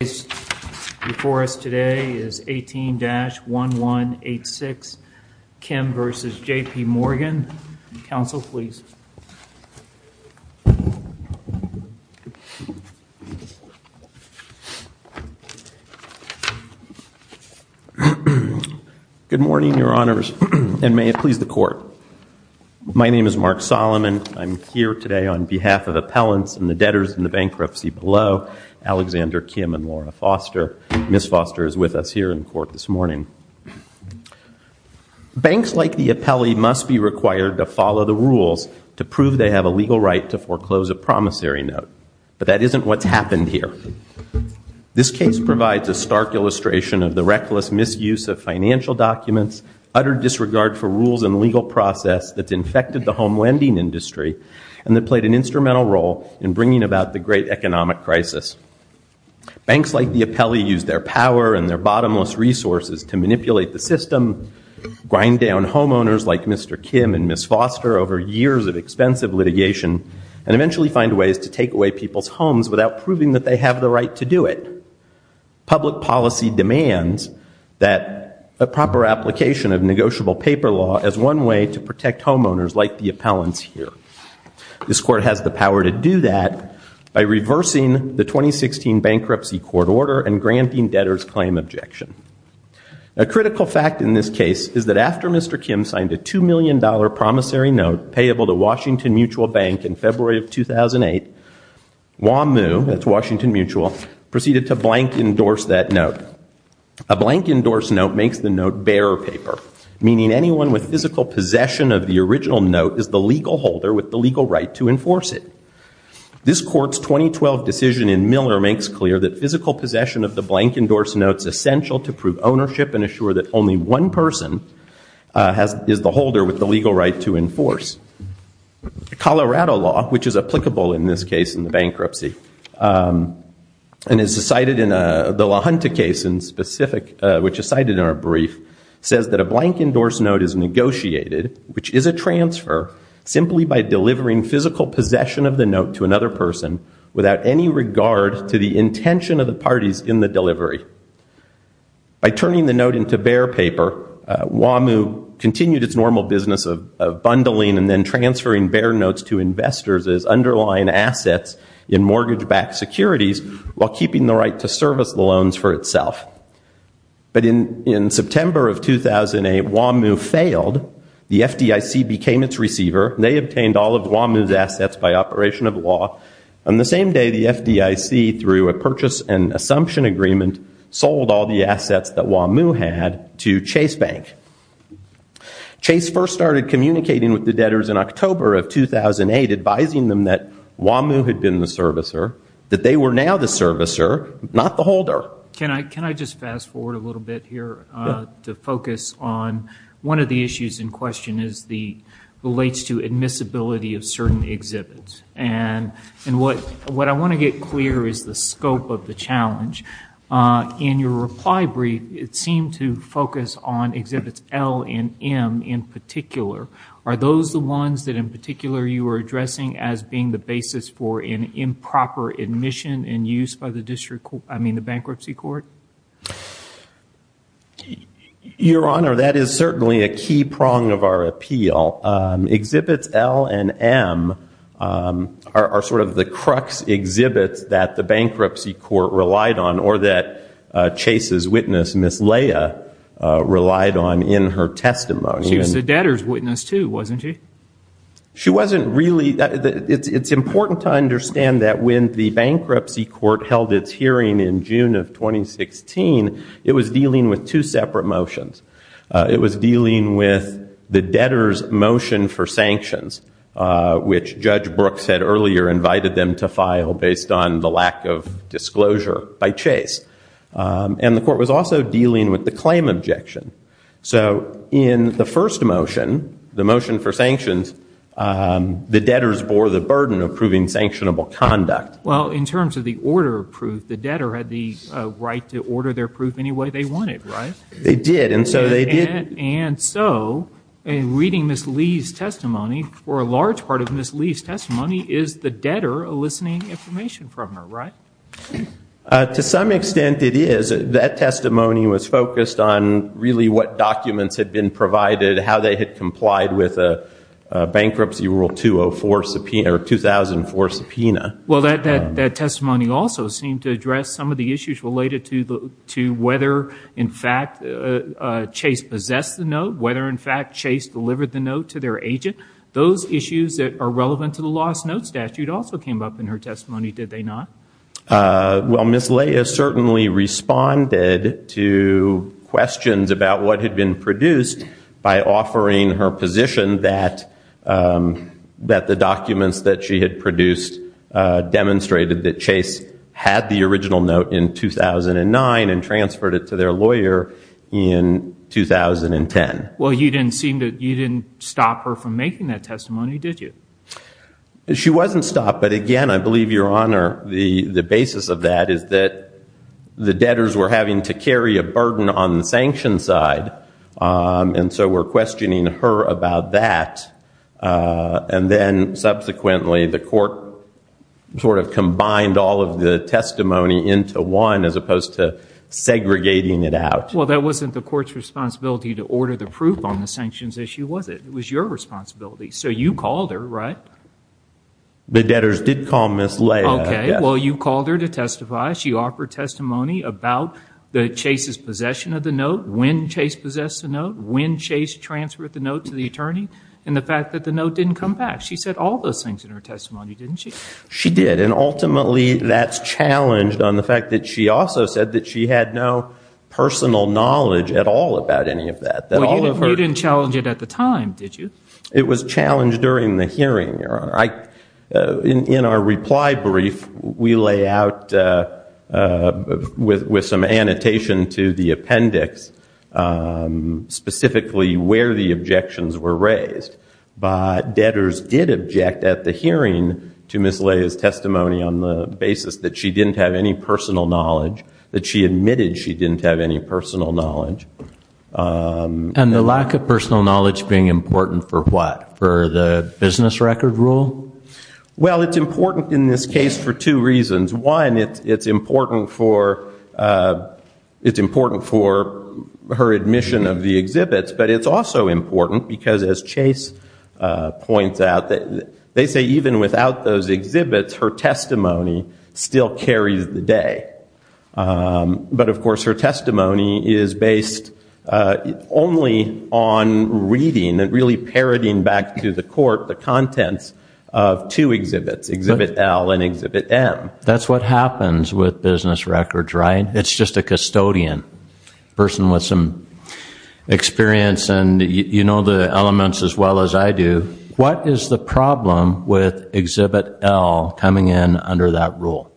The case before us today is 18-1186, Kim v. JP Morgan. Counsel, please. Good morning, Your Honors, and may it please the Court. My name is Mark Solomon. I'm here today on behalf of appellants and the debtors in the bankruptcy below, Alexander Kim and Laura Foster. Ms. Foster is with us here in court this morning. Banks like the appellee must be required to follow the rules to prove they have a legal right to foreclose a promissory note, but that isn't what's happened here. This case provides a stark illustration of the reckless misuse of financial documents, utter disregard for rules and legal process that's infected the home lending industry, and that played an instrumental role in bringing about the great economic crisis. Banks like the appellee use their power and their bottomless resources to manipulate the system, grind down homeowners like Mr. Kim and Ms. Foster over years of expensive litigation, and eventually find ways to take away people's homes without proving that they have the right to do it. Public policy demands that a proper application of negotiable paper law is one way to protect homeowners like the appellants here. This Court has the power to do that by reversing the 2016 bankruptcy court order and granting debtors' claim objection. A critical fact in this case is that after Mr. Kim signed a $2 million promissory note payable to Washington Mutual Bank in February of 2008, WAMU, that's Washington Mutual, proceeded to blank endorse that note. A blank endorse note makes the note bearer paper, meaning anyone with physical possession of the original note is the legal holder with the legal right to enforce it. This Court's 2012 decision in Miller makes clear that physical possession of the blank endorse note is essential to prove ownership and assure that only one person is the holder with the legal right to enforce. Colorado law, which is applicable in this case in the bankruptcy, and is cited in the LaHunta case in specific, which is cited in our brief, says that a blank endorse note is negotiated, which is a transfer, simply by delivering physical possession of the note to another person without any regard to the intention of the parties in the delivery. By turning the note into bear paper, WAMU continued its normal business of bundling and then transferring bear notes to investors as underlying assets in mortgage-backed securities while keeping the right to service the loans for itself. But in September of 2008, WAMU failed. The FDIC became its receiver. They obtained all of WAMU's assets by operation of law. On the same day, the FDIC, through a purchase and assumption agreement, sold all the assets that WAMU had to Chase Bank. Chase first started communicating with the debtors in October of 2008, advising them that WAMU had been the servicer, that they were now the servicer, not the holder. Can I just fast forward a little bit here to focus on one of the issues in question as it relates to admissibility of certain exhibits? And what I want to get clear is the scope of the challenge. In your reply brief, it seemed to focus on exhibits L and M in particular. Are those the ones that, in particular, you were addressing as being the basis for an improper admission and use by the bankruptcy court? Your Honor, that is certainly a key prong of our appeal. Exhibits L and M are sort of the crux exhibits that the bankruptcy court relied on or that Chase's witness, Ms. Leah, relied on in her testimony. She was a debtor's witness too, wasn't she? She wasn't really. It's important to understand that when the bankruptcy court held its hearing in June of 2016, it was dealing with two separate motions. It was dealing with the debtor's motion for sanctions, which Judge Brooks had earlier invited them to file based on the lack of disclosure by Chase. And the court was also dealing with the claim objection. So in the first motion, the motion for sanctions, the debtors bore the burden of proving sanctionable conduct. Well, in terms of the order of proof, the debtor had the right to order their proof any way they wanted, right? They did, and so they did. And so in reading Ms. Leah's testimony, for a large part of Ms. Leah's testimony, is the debtor eliciting information from her, right? To some extent it is. That testimony was focused on really what documents had been provided, how they had complied with a bankruptcy rule 2004 subpoena. Well, that testimony also seemed to address some of the issues related to whether, in fact, Chase possessed the note, whether, in fact, Chase delivered the note to their agent. Those issues that are relevant to the lost note statute also came up in her testimony, did they not? Well, Ms. Leah certainly responded to questions about what had been produced by offering her position that the documents that she had produced demonstrated that Chase had the original note in 2009 and transferred it to their lawyer in 2010. Well, you didn't stop her from making that testimony, did you? She wasn't stopped. But again, I believe, Your Honor, the basis of that is that the debtors were having to carry a burden on the sanction side, and so we're questioning her about that. And then subsequently the court sort of combined all of the testimony into one as opposed to segregating it out. Well, that wasn't the court's responsibility to order the proof on the sanctions issue, was it? It was your responsibility. So you called her, right? The debtors did call Ms. Leah. Okay, well, you called her to testify. She offered testimony about Chase's possession of the note, when Chase possessed the note, when Chase transferred the note to the attorney, and the fact that the note didn't come back. She said all those things in her testimony, didn't she? She did, and ultimately that's challenged on the fact that she also said that she had no personal knowledge at all about any of that. Well, you didn't challenge it at the time, did you? It was challenged during the hearing, Your Honor. In our reply brief, we lay out with some annotation to the appendix specifically where the objections were raised. But debtors did object at the hearing to Ms. Leah's testimony on the basis that she didn't have any personal knowledge, that she admitted she didn't have any personal knowledge. And the lack of personal knowledge being important for what, for the business record rule? Well, it's important in this case for two reasons. One, it's important for her admission of the exhibits, but it's also important because, as Chase points out, they say even without those exhibits, her testimony still carries the day. But, of course, her testimony is based only on reading and really parroting back to the court the contents of two exhibits, Exhibit L and Exhibit M. That's what happens with business records, right? It's just a custodian, a person with some experience, and you know the elements as well as I do. What is the problem with Exhibit L coming in under that rule?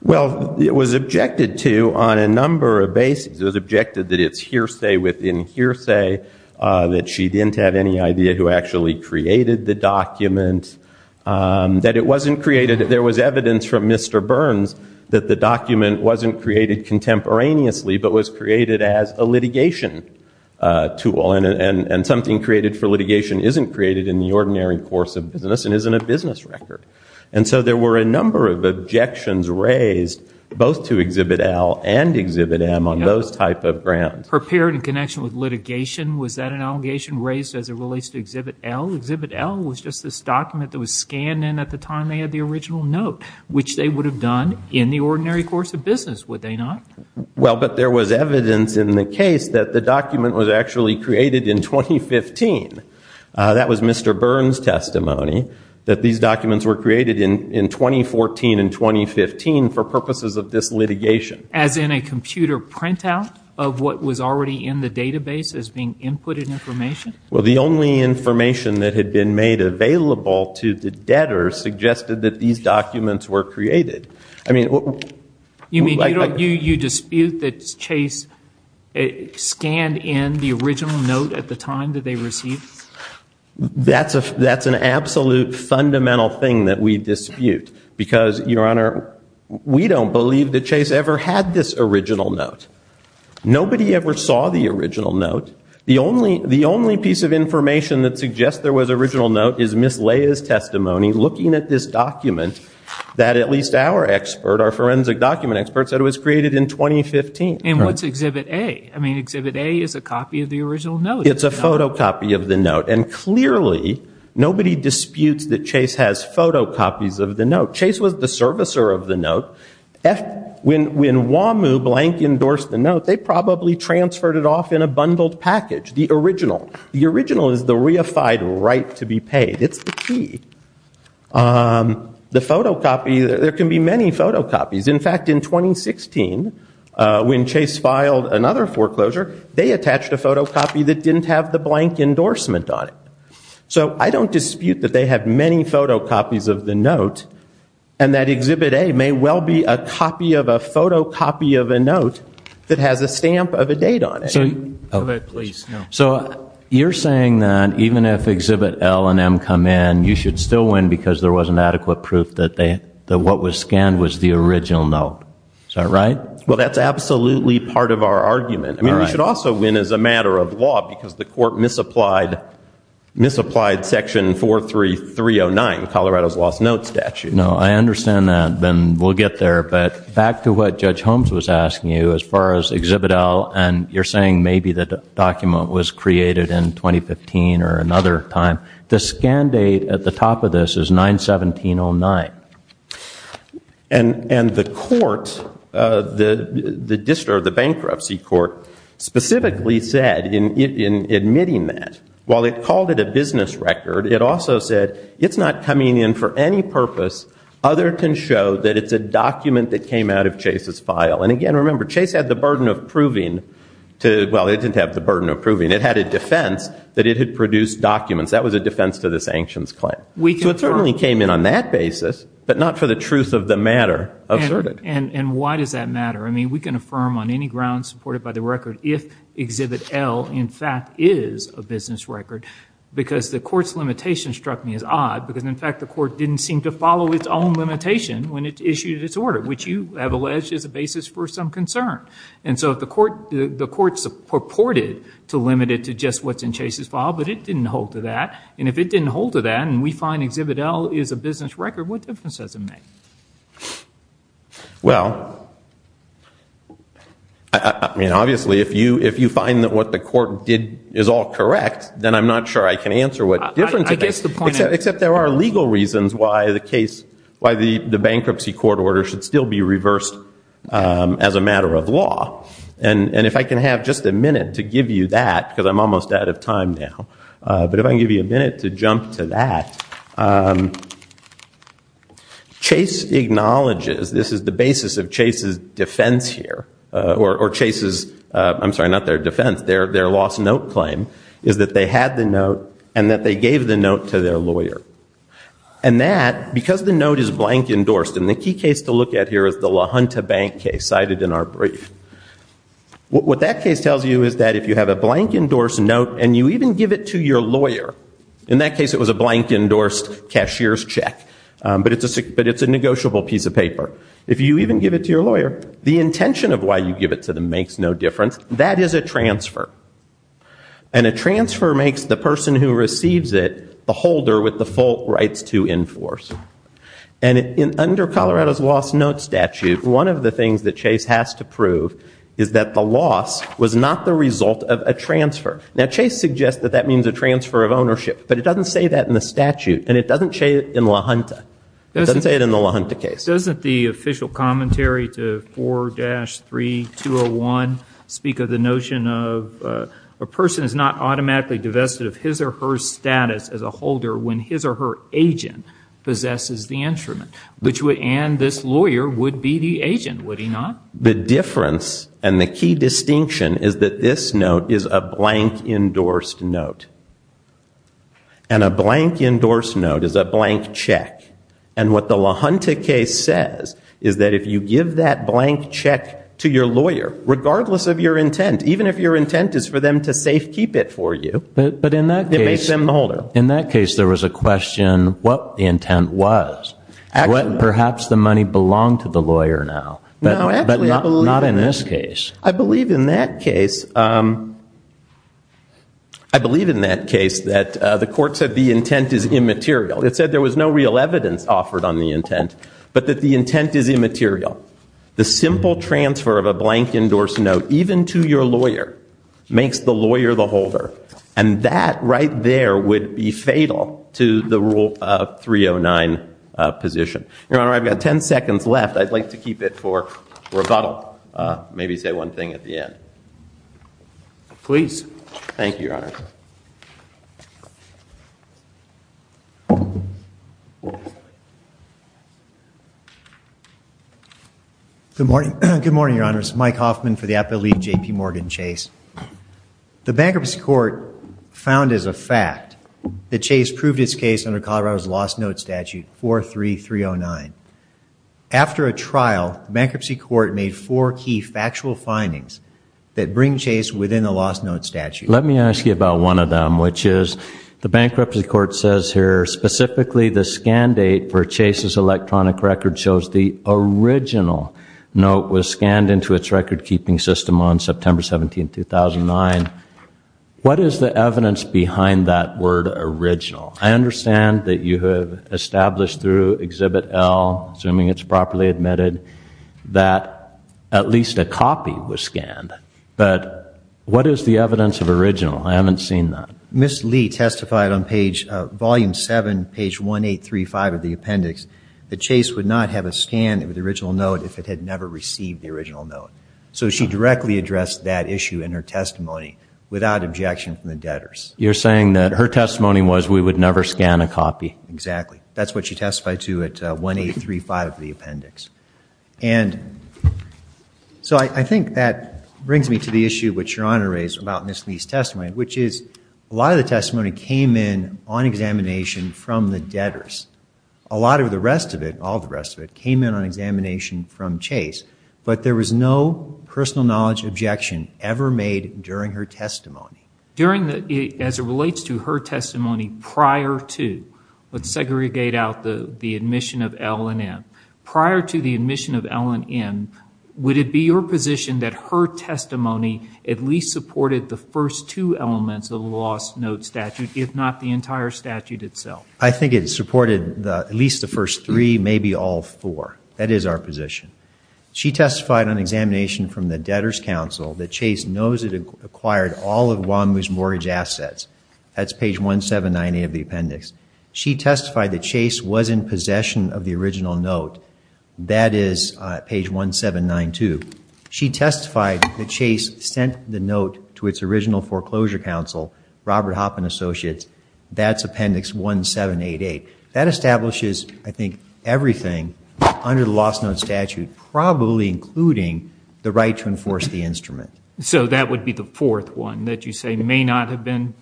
Well, it was objected to on a number of bases. It was objected that it's hearsay within hearsay, that she didn't have any idea who actually created the document, that it wasn't created. There was evidence from Mr. Burns that the document wasn't created contemporaneously, but was created as a litigation tool, and something created for litigation isn't created in the ordinary course of business and isn't a business record. And so there were a number of objections raised both to Exhibit L and Exhibit M on those type of grounds. Her parent in connection with litigation, was that an allegation raised as it relates to Exhibit L? Exhibit L was just this document that was scanned in at the time they had the original note, which they would have done in the ordinary course of business, would they not? Well, but there was evidence in the case that the document was actually created in 2015. That was Mr. Burns' testimony, that these documents were created in 2014 and 2015 for purposes of this litigation. As in a computer printout of what was already in the database as being inputted information? Well, the only information that had been made available to the debtors suggested that these documents were created. I mean... You dispute that Chase scanned in the original note at the time that they received it? That's an absolute fundamental thing that we dispute, because, Your Honor, we don't believe that Chase ever had this original note. Nobody ever saw the original note. The only piece of information that suggests there was an original note is Ms. Leia's testimony looking at this document that at least our forensic document expert said was created in 2015. And what's Exhibit A? I mean, Exhibit A is a copy of the original note. It's a photocopy of the note, and clearly, nobody disputes that Chase has photocopies of the note. Chase was the servicer of the note. When WAMU blank endorsed the note, they probably transferred it off in a bundled package, the original. The original is the reified right to be paid. It's the key. The photocopy, there can be many photocopies. In fact, in 2016, when Chase filed another foreclosure, they attached a photocopy that didn't have the blank endorsement on it. So I don't dispute that they have many photocopies of the note, and that Exhibit A may well be a copy of a photocopy of a note that has a stamp of a date on it. So you're saying that even if Exhibit L and M come in, you should still win because there wasn't adequate proof that what was scanned was the original note. Is that right? Well, that's absolutely part of our argument. I mean, we should also win as a matter of law because the court misapplied Section 43309, Colorado's lost note statute. No, I understand that, and we'll get there. But back to what Judge Holmes was asking you as far as Exhibit L, and you're saying maybe the document was created in 2015 or another time. The scan date at the top of this is 9-17-09. And the court, the bankruptcy court, specifically said in admitting that, while it called it a business record, it also said it's not coming in for any purpose other than to show that it's a document that came out of Chase's file. And again, remember, Chase had the burden of proving to – well, it didn't have the burden of proving. It had a defense that it had produced documents. That was a defense to the sanctions claim. So it certainly came in on that basis, but not for the truth of the matter asserted. And why does that matter? I mean, we can affirm on any grounds supported by the record if Exhibit L in fact is a business record because the court's limitation struck me as odd because, in fact, the court didn't seem to follow its own limitation when it issued its order, which you have alleged is a basis for some concern. And so the court purported to limit it to just what's in Chase's file, but it didn't hold to that. And if it didn't hold to that and we find Exhibit L is a business record, what difference does it make? Well, I mean, obviously, if you find that what the court did is all correct, then I'm not sure I can answer what difference it makes. Except there are legal reasons why the bankruptcy court order should still be reversed as a matter of law. And if I can have just a minute to give you that because I'm almost out of time now, but if I can give you a minute to jump to that, Chase acknowledges this is the basis of Chase's defense here, or Chase's, I'm sorry, not their defense, their lost note claim, is that they had the note and that they gave the note to their lawyer. And that, because the note is blank endorsed, and the key case to look at here is the LaHunta Bank case cited in our brief, what that case tells you is that if you have a blank endorsed note and you even give it to your lawyer, in that case it was a blank endorsed cashier's check, but it's a negotiable piece of paper. If you even give it to your lawyer, the intention of why you give it to them makes no difference. That is a transfer. And a transfer makes the person who receives it the holder with the full rights to enforce. And under Colorado's lost note statute, one of the things that Chase has to prove is that the loss was not the result of a transfer. Now, Chase suggests that that means a transfer of ownership, but it doesn't say that in the statute, and it doesn't say it in LaHunta. It doesn't say it in the LaHunta case. Doesn't the official commentary to 4-3201 speak of the notion of a person is not automatically divested of his or her status as a holder when his or her agent possesses the instrument? And this lawyer would be the agent, would he not? The difference and the key distinction is that this note is a blank endorsed note. And a blank endorsed note is a blank check. And what the LaHunta case says is that if you give that blank check to your lawyer, regardless of your intent, even if your intent is for them to safe keep it for you. But in that case, there was a question what the intent was. Perhaps the money belonged to the lawyer now, but not in this case. I believe in that case that the court said the intent is immaterial. It said there was no real evidence offered on the intent, but that the intent is immaterial. The simple transfer of a blank endorsed note, even to your lawyer, makes the lawyer the holder. And that right there would be fatal to the Rule 309 position. Your Honor, I've got 10 seconds left. I'd like to keep it for rebuttal, maybe say one thing at the end. Please. Thank you, Your Honor. Good morning, Your Honors. Mike Hoffman for the Appellate League, J.P. Morgan Chase. The Bankruptcy Court found as a fact that Chase proved its case under Colorado's Lost Note Statute 43309. After a trial, the Bankruptcy Court made four key factual findings that bring Chase within the Lost Note Statute. Let me ask you about one of them, which is the Bankruptcy Court says here, it shows the original note was scanned into its record-keeping system on September 17, 2009. What is the evidence behind that word original? I understand that you have established through Exhibit L, assuming it's properly admitted, that at least a copy was scanned. But what is the evidence of original? I haven't seen that. Ms. Lee testified on page, Volume 7, page 1835 of the appendix, that Chase would not have a scan of the original note if it had never received the original note. So she directly addressed that issue in her testimony without objection from the debtors. You're saying that her testimony was we would never scan a copy? Exactly. That's what she testified to at 1835 of the appendix. And so I think that brings me to the issue which Your Honor raised about Ms. Lee's testimony, which is a lot of the testimony came in on examination from the debtors. A lot of the rest of it, all the rest of it, came in on examination from Chase. But there was no personal knowledge objection ever made during her testimony. During the, as it relates to her testimony prior to, let's segregate out the admission of L and M. Prior to the admission of L and M, would it be your position that her testimony at least supported the first two elements of the lost note statute, if not the entire statute itself? I think it supported at least the first three, maybe all four. That is our position. She testified on examination from the debtors' council that Chase knows it acquired all of WAMU's mortgage assets. That's page 1798 of the appendix. She testified that Chase was in possession of the original note. That is page 1792. She testified that Chase sent the note to its original foreclosure counsel, Robert Hoppen Associates. That's appendix 1788. That establishes, I think, everything under the lost note statute, probably including the right to enforce the instrument. So that would be the fourth one that you say may not have been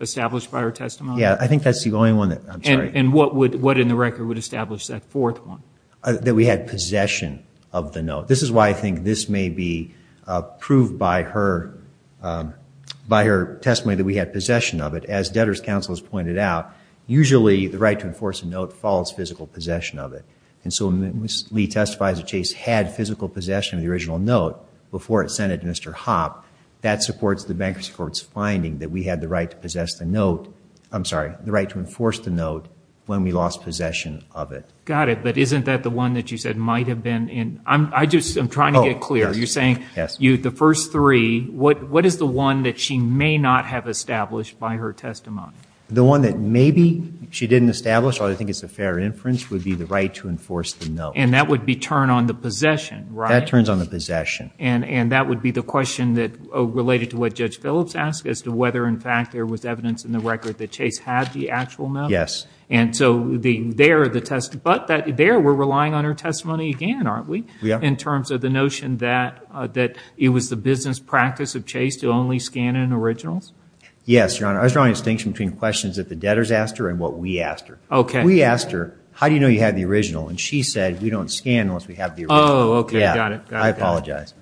established by her testimony? Yeah, I think that's the only one that, I'm sorry. And what in the record would establish that fourth one? That we had possession of the note. This is why I think this may be proved by her testimony that we had possession of it. As debtors' counsel has pointed out, usually the right to enforce a note follows physical possession of it. And so when Lee testifies that Chase had physical possession of the original note before it was sent to Mr. Hopp, that supports the bankruptcy court's finding that we had the right to possess the note. I'm sorry, the right to enforce the note when we lost possession of it. Got it. But isn't that the one that you said might have been? I'm trying to get clear. You're saying the first three, what is the one that she may not have established by her testimony? The one that maybe she didn't establish, although I think it's a fair inference, would be the right to enforce the note. And that would be turn on the possession, right? That turns on the possession. And that would be the question related to what Judge Phillips asked, as to whether, in fact, there was evidence in the record that Chase had the actual note. Yes. And so there were relying on her testimony again, aren't we, in terms of the notion that it was the business practice of Chase to only scan in originals? Yes, Your Honor. I was drawing a distinction between questions that the debtors asked her and what we asked her. Okay. We asked her, how do you know you have the original? And she said, we don't scan unless we have the original. Oh, okay. I got it. I apologize.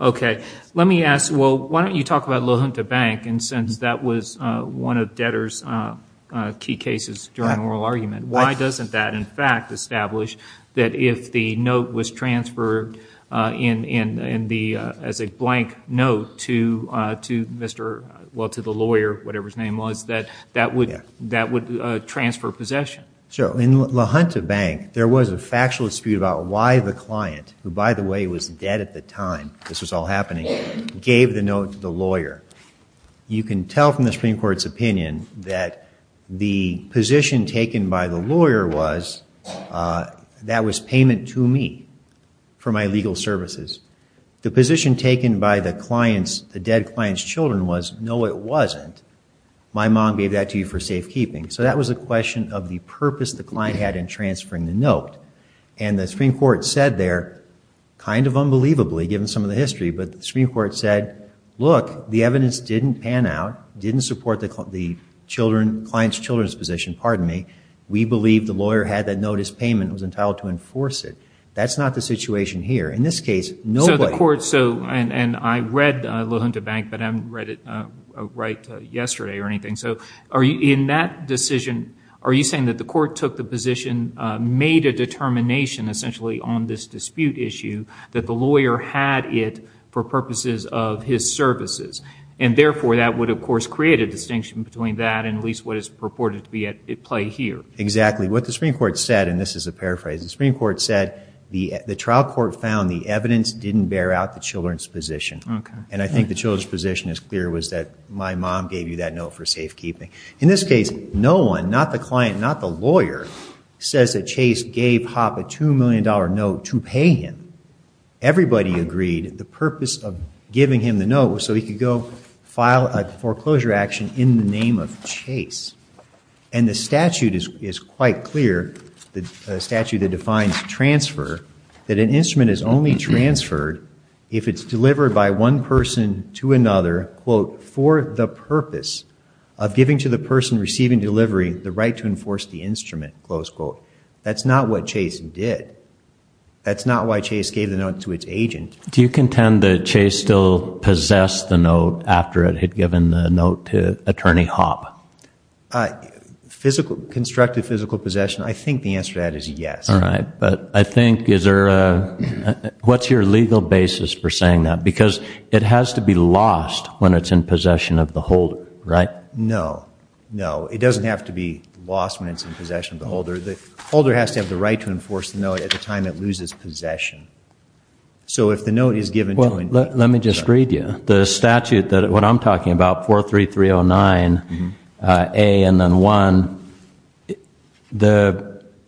Okay. Let me ask, well, why don't you talk about LaHunta Bank, and since that was one of debtors' key cases during oral argument, why doesn't that, in fact, establish that if the note was transferred as a blank note to the lawyer, whatever his name was, that that would transfer possession? Sure. Well, in LaHunta Bank, there was a factual dispute about why the client, who, by the way, was dead at the time this was all happening, gave the note to the lawyer. You can tell from the Supreme Court's opinion that the position taken by the lawyer was, that was payment to me for my legal services. The position taken by the client's, the dead client's children was, no, it wasn't. My mom gave that to you for safekeeping. So that was a question of the purpose the client had in transferring the note. And the Supreme Court said there, kind of unbelievably, given some of the history, but the Supreme Court said, look, the evidence didn't pan out, didn't support the client's children's position. Pardon me. We believe the lawyer had that note as payment and was entitled to enforce it. That's not the situation here. In this case, nobody. So the court, and I read LaHunta Bank, but I haven't read it right yesterday or anything. So in that decision, are you saying that the court took the position, made a determination essentially on this dispute issue, that the lawyer had it for purposes of his services, and therefore that would, of course, create a distinction between that and at least what is purported to be at play here? Exactly. What the Supreme Court said, and this is a paraphrase, the Supreme Court said the trial court found the evidence didn't bear out the children's position. Okay. And I think the children's position is clear, was that my mom gave you that note for safekeeping. In this case, no one, not the client, not the lawyer, says that Chase gave Hoppe a $2 million note to pay him. Everybody agreed the purpose of giving him the note was so he could go file a foreclosure action in the name of Chase. And the statute is quite clear, the statute that defines transfer, that an instrument is only transferred if it's delivered by one person to another, quote, for the purpose of giving to the person receiving delivery the right to enforce the instrument, close quote. That's not what Chase did. That's not why Chase gave the note to its agent. Do you contend that Chase still possessed the note after it had given the note to Attorney Hoppe? Physical, constructive physical possession, I think the answer to that is yes. All right. But I think is there a, what's your legal basis for saying that? Because it has to be lost when it's in possession of the holder, right? No, no. It doesn't have to be lost when it's in possession of the holder. The holder has to have the right to enforce the note at the time it loses possession. So if the note is given to an agent. Well, let me just read you. The statute, what I'm talking about, 43309A and then 1,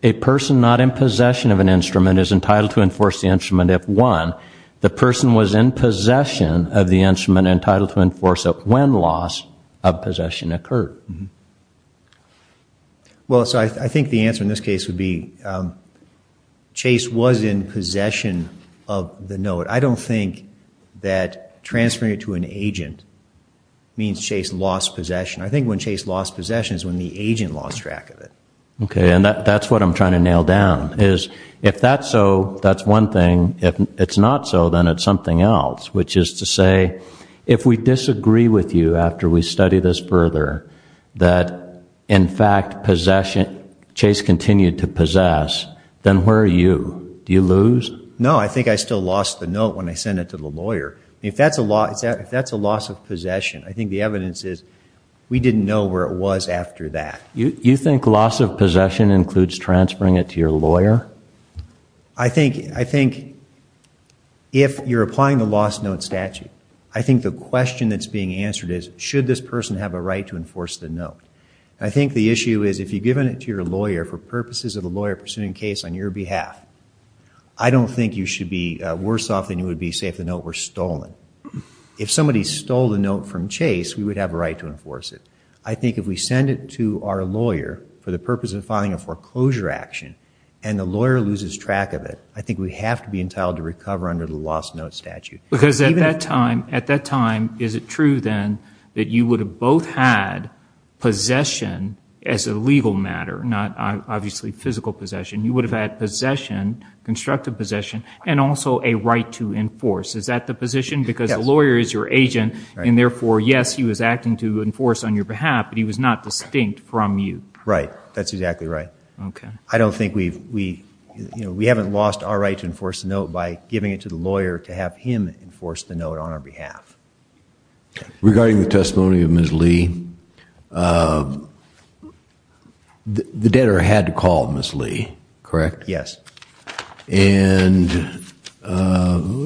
a person not in possession of an instrument is entitled to enforce the instrument if, one, the person was in possession of the instrument entitled to enforce it when loss of possession occurred. Well, so I think the answer in this case would be Chase was in possession of the note. I don't think that transferring it to an agent means Chase lost possession. I think when Chase lost possession is when the agent lost track of it. Okay. And that's what I'm trying to nail down is if that's so, that's one thing. If it's not so, then it's something else, which is to say, if we disagree with you after we study this further that, in fact, Chase continued to possess, then where are you? Do you lose? No, I think I still lost the note when I sent it to the lawyer. If that's a loss of possession, I think the evidence is we didn't know where it was after that. You think loss of possession includes transferring it to your lawyer? I think if you're applying the lost note statute, I think the question that's being answered is should this person have a right to enforce the note? I think the issue is if you've given it to your lawyer for purposes of a lawyer pursuing a case on your behalf, I don't think you should be worse off than you would be, say, if the note were stolen. If somebody stole the note from Chase, we would have a right to enforce it. I think if we send it to our lawyer for the purpose of filing a foreclosure action and the lawyer loses track of it, I think we have to be entitled to recover under the lost note statute. Because at that time, is it true then that you would have both had possession as a legal matter, not obviously physical possession? You would have had possession, constructive possession, and also a right to enforce. Is that the position? Because the lawyer is your agent, and therefore, yes, he was acting to enforce on your behalf, but he was not distinct from you. Right. That's exactly right. I don't think we've, you know, we haven't lost our right to enforce the note by giving it to the lawyer to have him enforce the note on our behalf. Regarding the testimony of Ms. Lee, the debtor had to call Ms. Lee, correct? Yes. And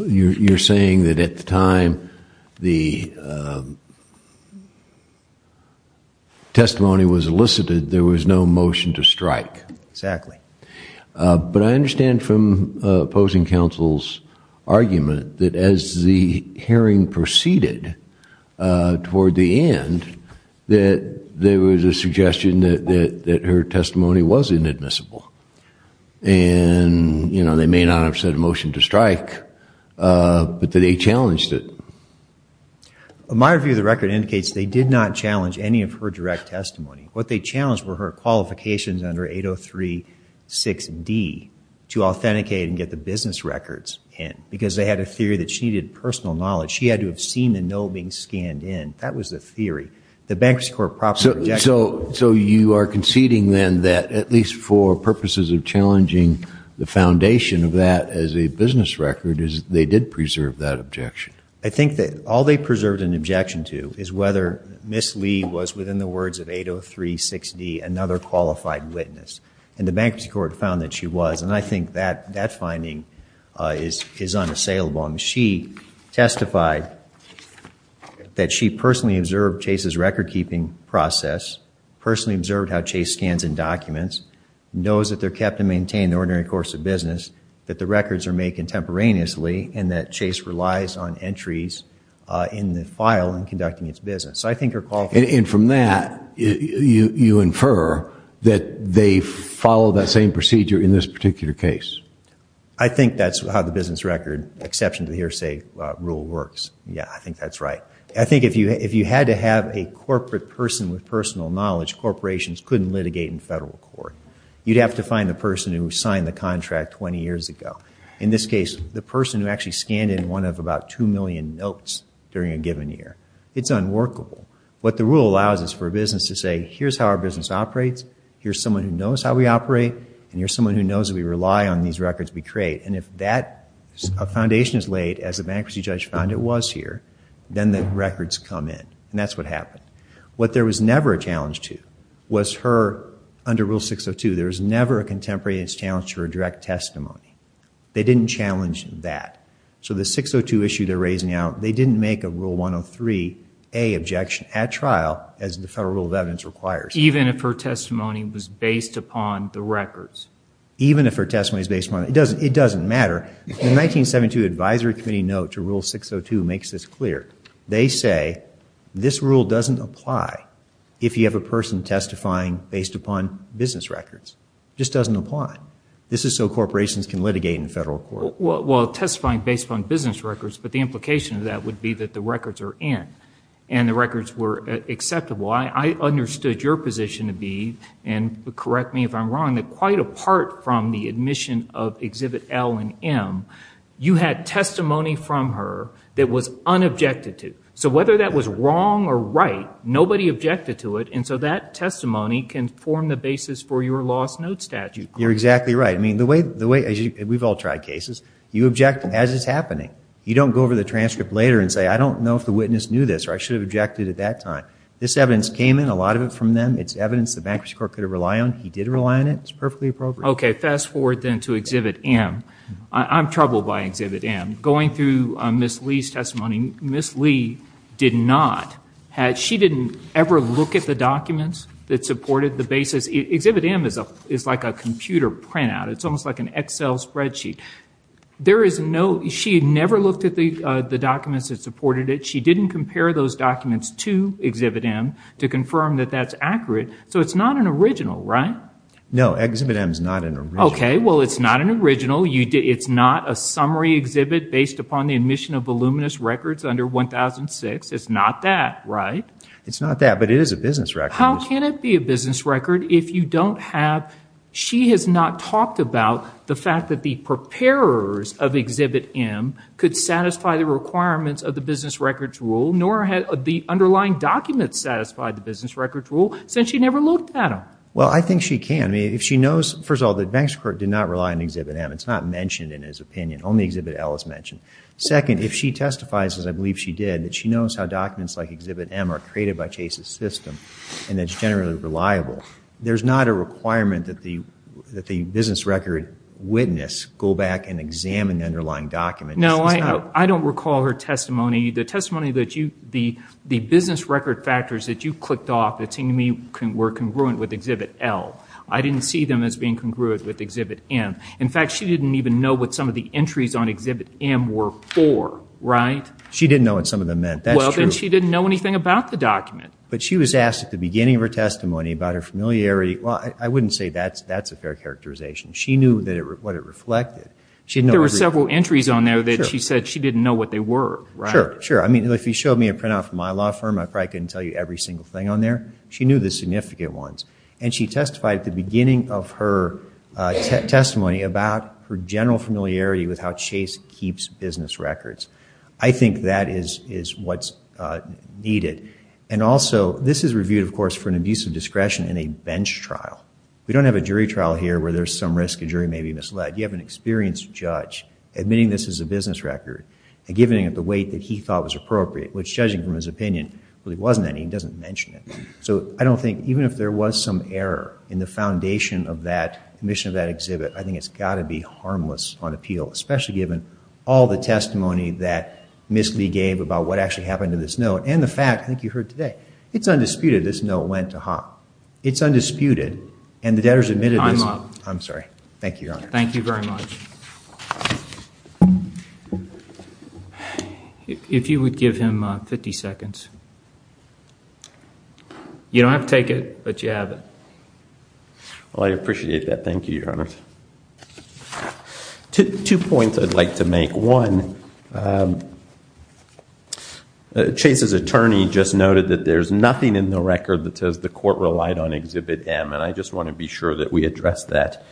you're saying that at the time the testimony was elicited, there was no motion to strike? Exactly. But I understand from opposing counsel's argument that as the hearing proceeded toward the end, that there was a suggestion that her testimony was inadmissible. And, you know, they may not have said a motion to strike, but that they challenged it. My review of the record indicates they did not challenge any of her direct testimony. What they challenged were her qualifications under 803-6D to authenticate and get the business records in, because they had a theory that she needed personal knowledge. She had to have seen the note being scanned in. That was the theory. The Bankers Corp. proper objection. So you are conceding then that at least for purposes of challenging the foundation of that as a business record is they did preserve that objection? I think that all they preserved an objection to is whether Ms. Lee was, within the words of 803-6D, another qualified witness. And the Bankers Corp. found that she was. And I think that finding is unassailable. She testified that she personally observed Chase's record-keeping process, personally observed how Chase scans and documents, knows that they're kept and maintained in the ordinary course of business, that the records are made contemporaneously, and that Chase relies on entries in the file in conducting its business. And from that, you infer that they followed that same procedure in this particular case? I think that's how the business record exception to the hearsay rule works. Yeah, I think that's right. I think if you had to have a corporate person with personal knowledge, corporations couldn't litigate in federal court. You'd have to find the person who signed the contract 20 years ago. In this case, the person who actually scanned in one of about 2 million notes during a given year. It's unworkable. What the rule allows is for a business to say, here's how our business operates, here's someone who knows how we operate, and here's someone who knows that we rely on these records we create. And if that foundation is laid, as the bankruptcy judge found it was here, then the records come in. And that's what happened. What there was never a challenge to was her, under Rule 602, there was never a contemporaneous challenge to her direct testimony. They didn't challenge that. So the 602 issue they're raising now, they didn't make a Rule 103a objection at trial, as the Federal Rule of Evidence requires. Even if her testimony was based upon the records? Even if her testimony was based upon the records. It doesn't matter. The 1972 Advisory Committee note to Rule 602 makes this clear. They say this rule doesn't apply if you have a person testifying based upon business records. It just doesn't apply. This is so corporations can litigate in federal court. Well, testifying based upon business records, but the implication of that would be that the records are in, and the records were acceptable. I understood your position to be, and correct me if I'm wrong, that quite apart from the admission of Exhibit L and M, you had testimony from her that was unobjected to. So whether that was wrong or right, nobody objected to it, and so that testimony can form the basis for your lost note statute. You're exactly right. We've all tried cases. You object as it's happening. You don't go over the transcript later and say, I don't know if the witness knew this, or I should have objected at that time. This evidence came in, a lot of it from them. It's evidence the bankruptcy court could have relied on. He did rely on it. It's perfectly appropriate. Okay, fast forward then to Exhibit M. I'm troubled by Exhibit M. Going through Ms. Lee's testimony, Ms. Lee did not, she didn't ever look at the documents that supported the basis. Exhibit M is like a computer printout. It's almost like an Excel spreadsheet. She had never looked at the documents that supported it. She didn't compare those documents to Exhibit M to confirm that that's accurate. So it's not an original, right? No, Exhibit M is not an original. Okay, well, it's not an original. It's not a summary exhibit based upon the admission of voluminous records under 1006. It's not that, right? It's not that, but it is a business record. How can it be a business record if you don't have, she has not talked about the fact that the preparers of Exhibit M could satisfy the requirements of the business records rule, nor had the underlying documents satisfied the business records rule, since she never looked at them. Well, I think she can. I mean, if she knows, first of all, that the bank's record did not rely on Exhibit M. It's not mentioned in his opinion. Only Exhibit L is mentioned. Second, if she testifies, as I believe she did, that she knows how documents like Exhibit M are created by Chase's system and that it's generally reliable, there's not a requirement that the business record witness go back and examine the underlying document. No, I don't recall her testimony. The testimony that you, the business record factors that you clicked off, it seemed to me were congruent with Exhibit L. I didn't see them as being congruent with Exhibit M. In fact, she didn't even know what some of the entries on Exhibit M were for, right? She didn't know what some of them meant. That's true. Well, then she didn't know anything about the document. But she was asked at the beginning of her testimony about her familiarity. Well, I wouldn't say that's a fair characterization. She knew what it reflected. There were several entries on there that she said she didn't know what they were. Sure, sure. I mean, if you showed me a printout from my law firm, I probably couldn't tell you every single thing on there. She knew the significant ones. And she testified at the beginning of her testimony about her general familiarity with how Chase keeps business records. I think that is what's needed. And also, this is reviewed, of course, for an abuse of discretion in a bench trial. We don't have a jury trial here where there's some risk a jury may be misled. You have an experienced judge admitting this is a business record and giving it the weight that he thought was appropriate, which, judging from his opinion, really wasn't any. He doesn't mention it. So I don't think, even if there was some error in the foundation of that, the mission of that exhibit, I think it's got to be harmless on appeal, especially given all the testimony that Ms. Lee gave about what actually happened to this note and the fact, I think you heard today, it's undisputed this note went to Hopp. It's undisputed. And the debtors admitted this. I'm up. I'm sorry. Thank you, Your Honor. Thank you very much. If you would give him 50 seconds. You don't have to take it, but you have it. Well, I appreciate that. Thank you, Your Honor. Two points I'd like to make. One, Chase's attorney just noted that there's nothing in the record that says the court relied on exhibit M, and I just want to be sure that we address that.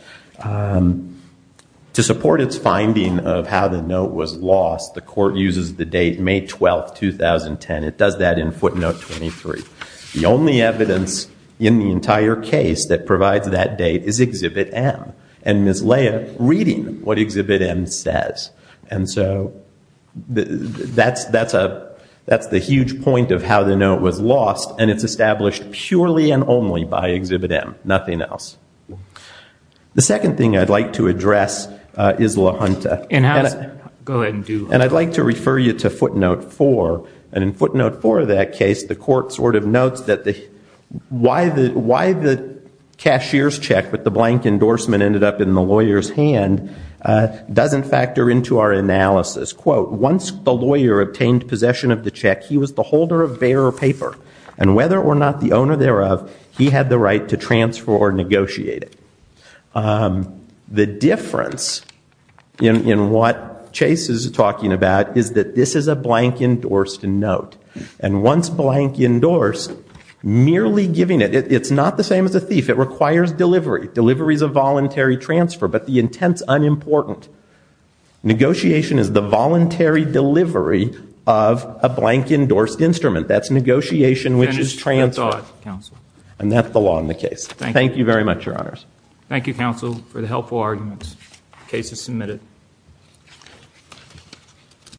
To support its finding of how the note was lost, the court uses the date May 12, 2010. It does that in footnote 23. The only evidence in the entire case that provides that date is exhibit M, and Ms. Leah reading what exhibit M says. And so that's the huge point of how the note was lost, and it's established purely and only by exhibit M, nothing else. The second thing I'd like to address is LaHunta. Go ahead and do it. And I'd like to refer you to footnote 4. And in footnote 4 of that case, the court sort of notes that why the cashier's check with the blank endorsement ended up in the lawyer's hand doesn't factor into our analysis. Quote, once the lawyer obtained possession of the check, he was the holder of bearer paper, and whether or not the owner thereof, he had the right to transfer or negotiate it. The difference in what Chase is talking about is that this is a blank endorsed note. And once blank endorsed, merely giving it, it's not the same as a thief. It requires delivery. Delivery is a voluntary transfer, but the intent's unimportant. Negotiation is the voluntary delivery of a blank endorsed instrument. That's negotiation which is transfer. And that's the law in the case. Thank you very much, Your Honors. Thank you, Counsel, for the helpful arguments. The case is submitted.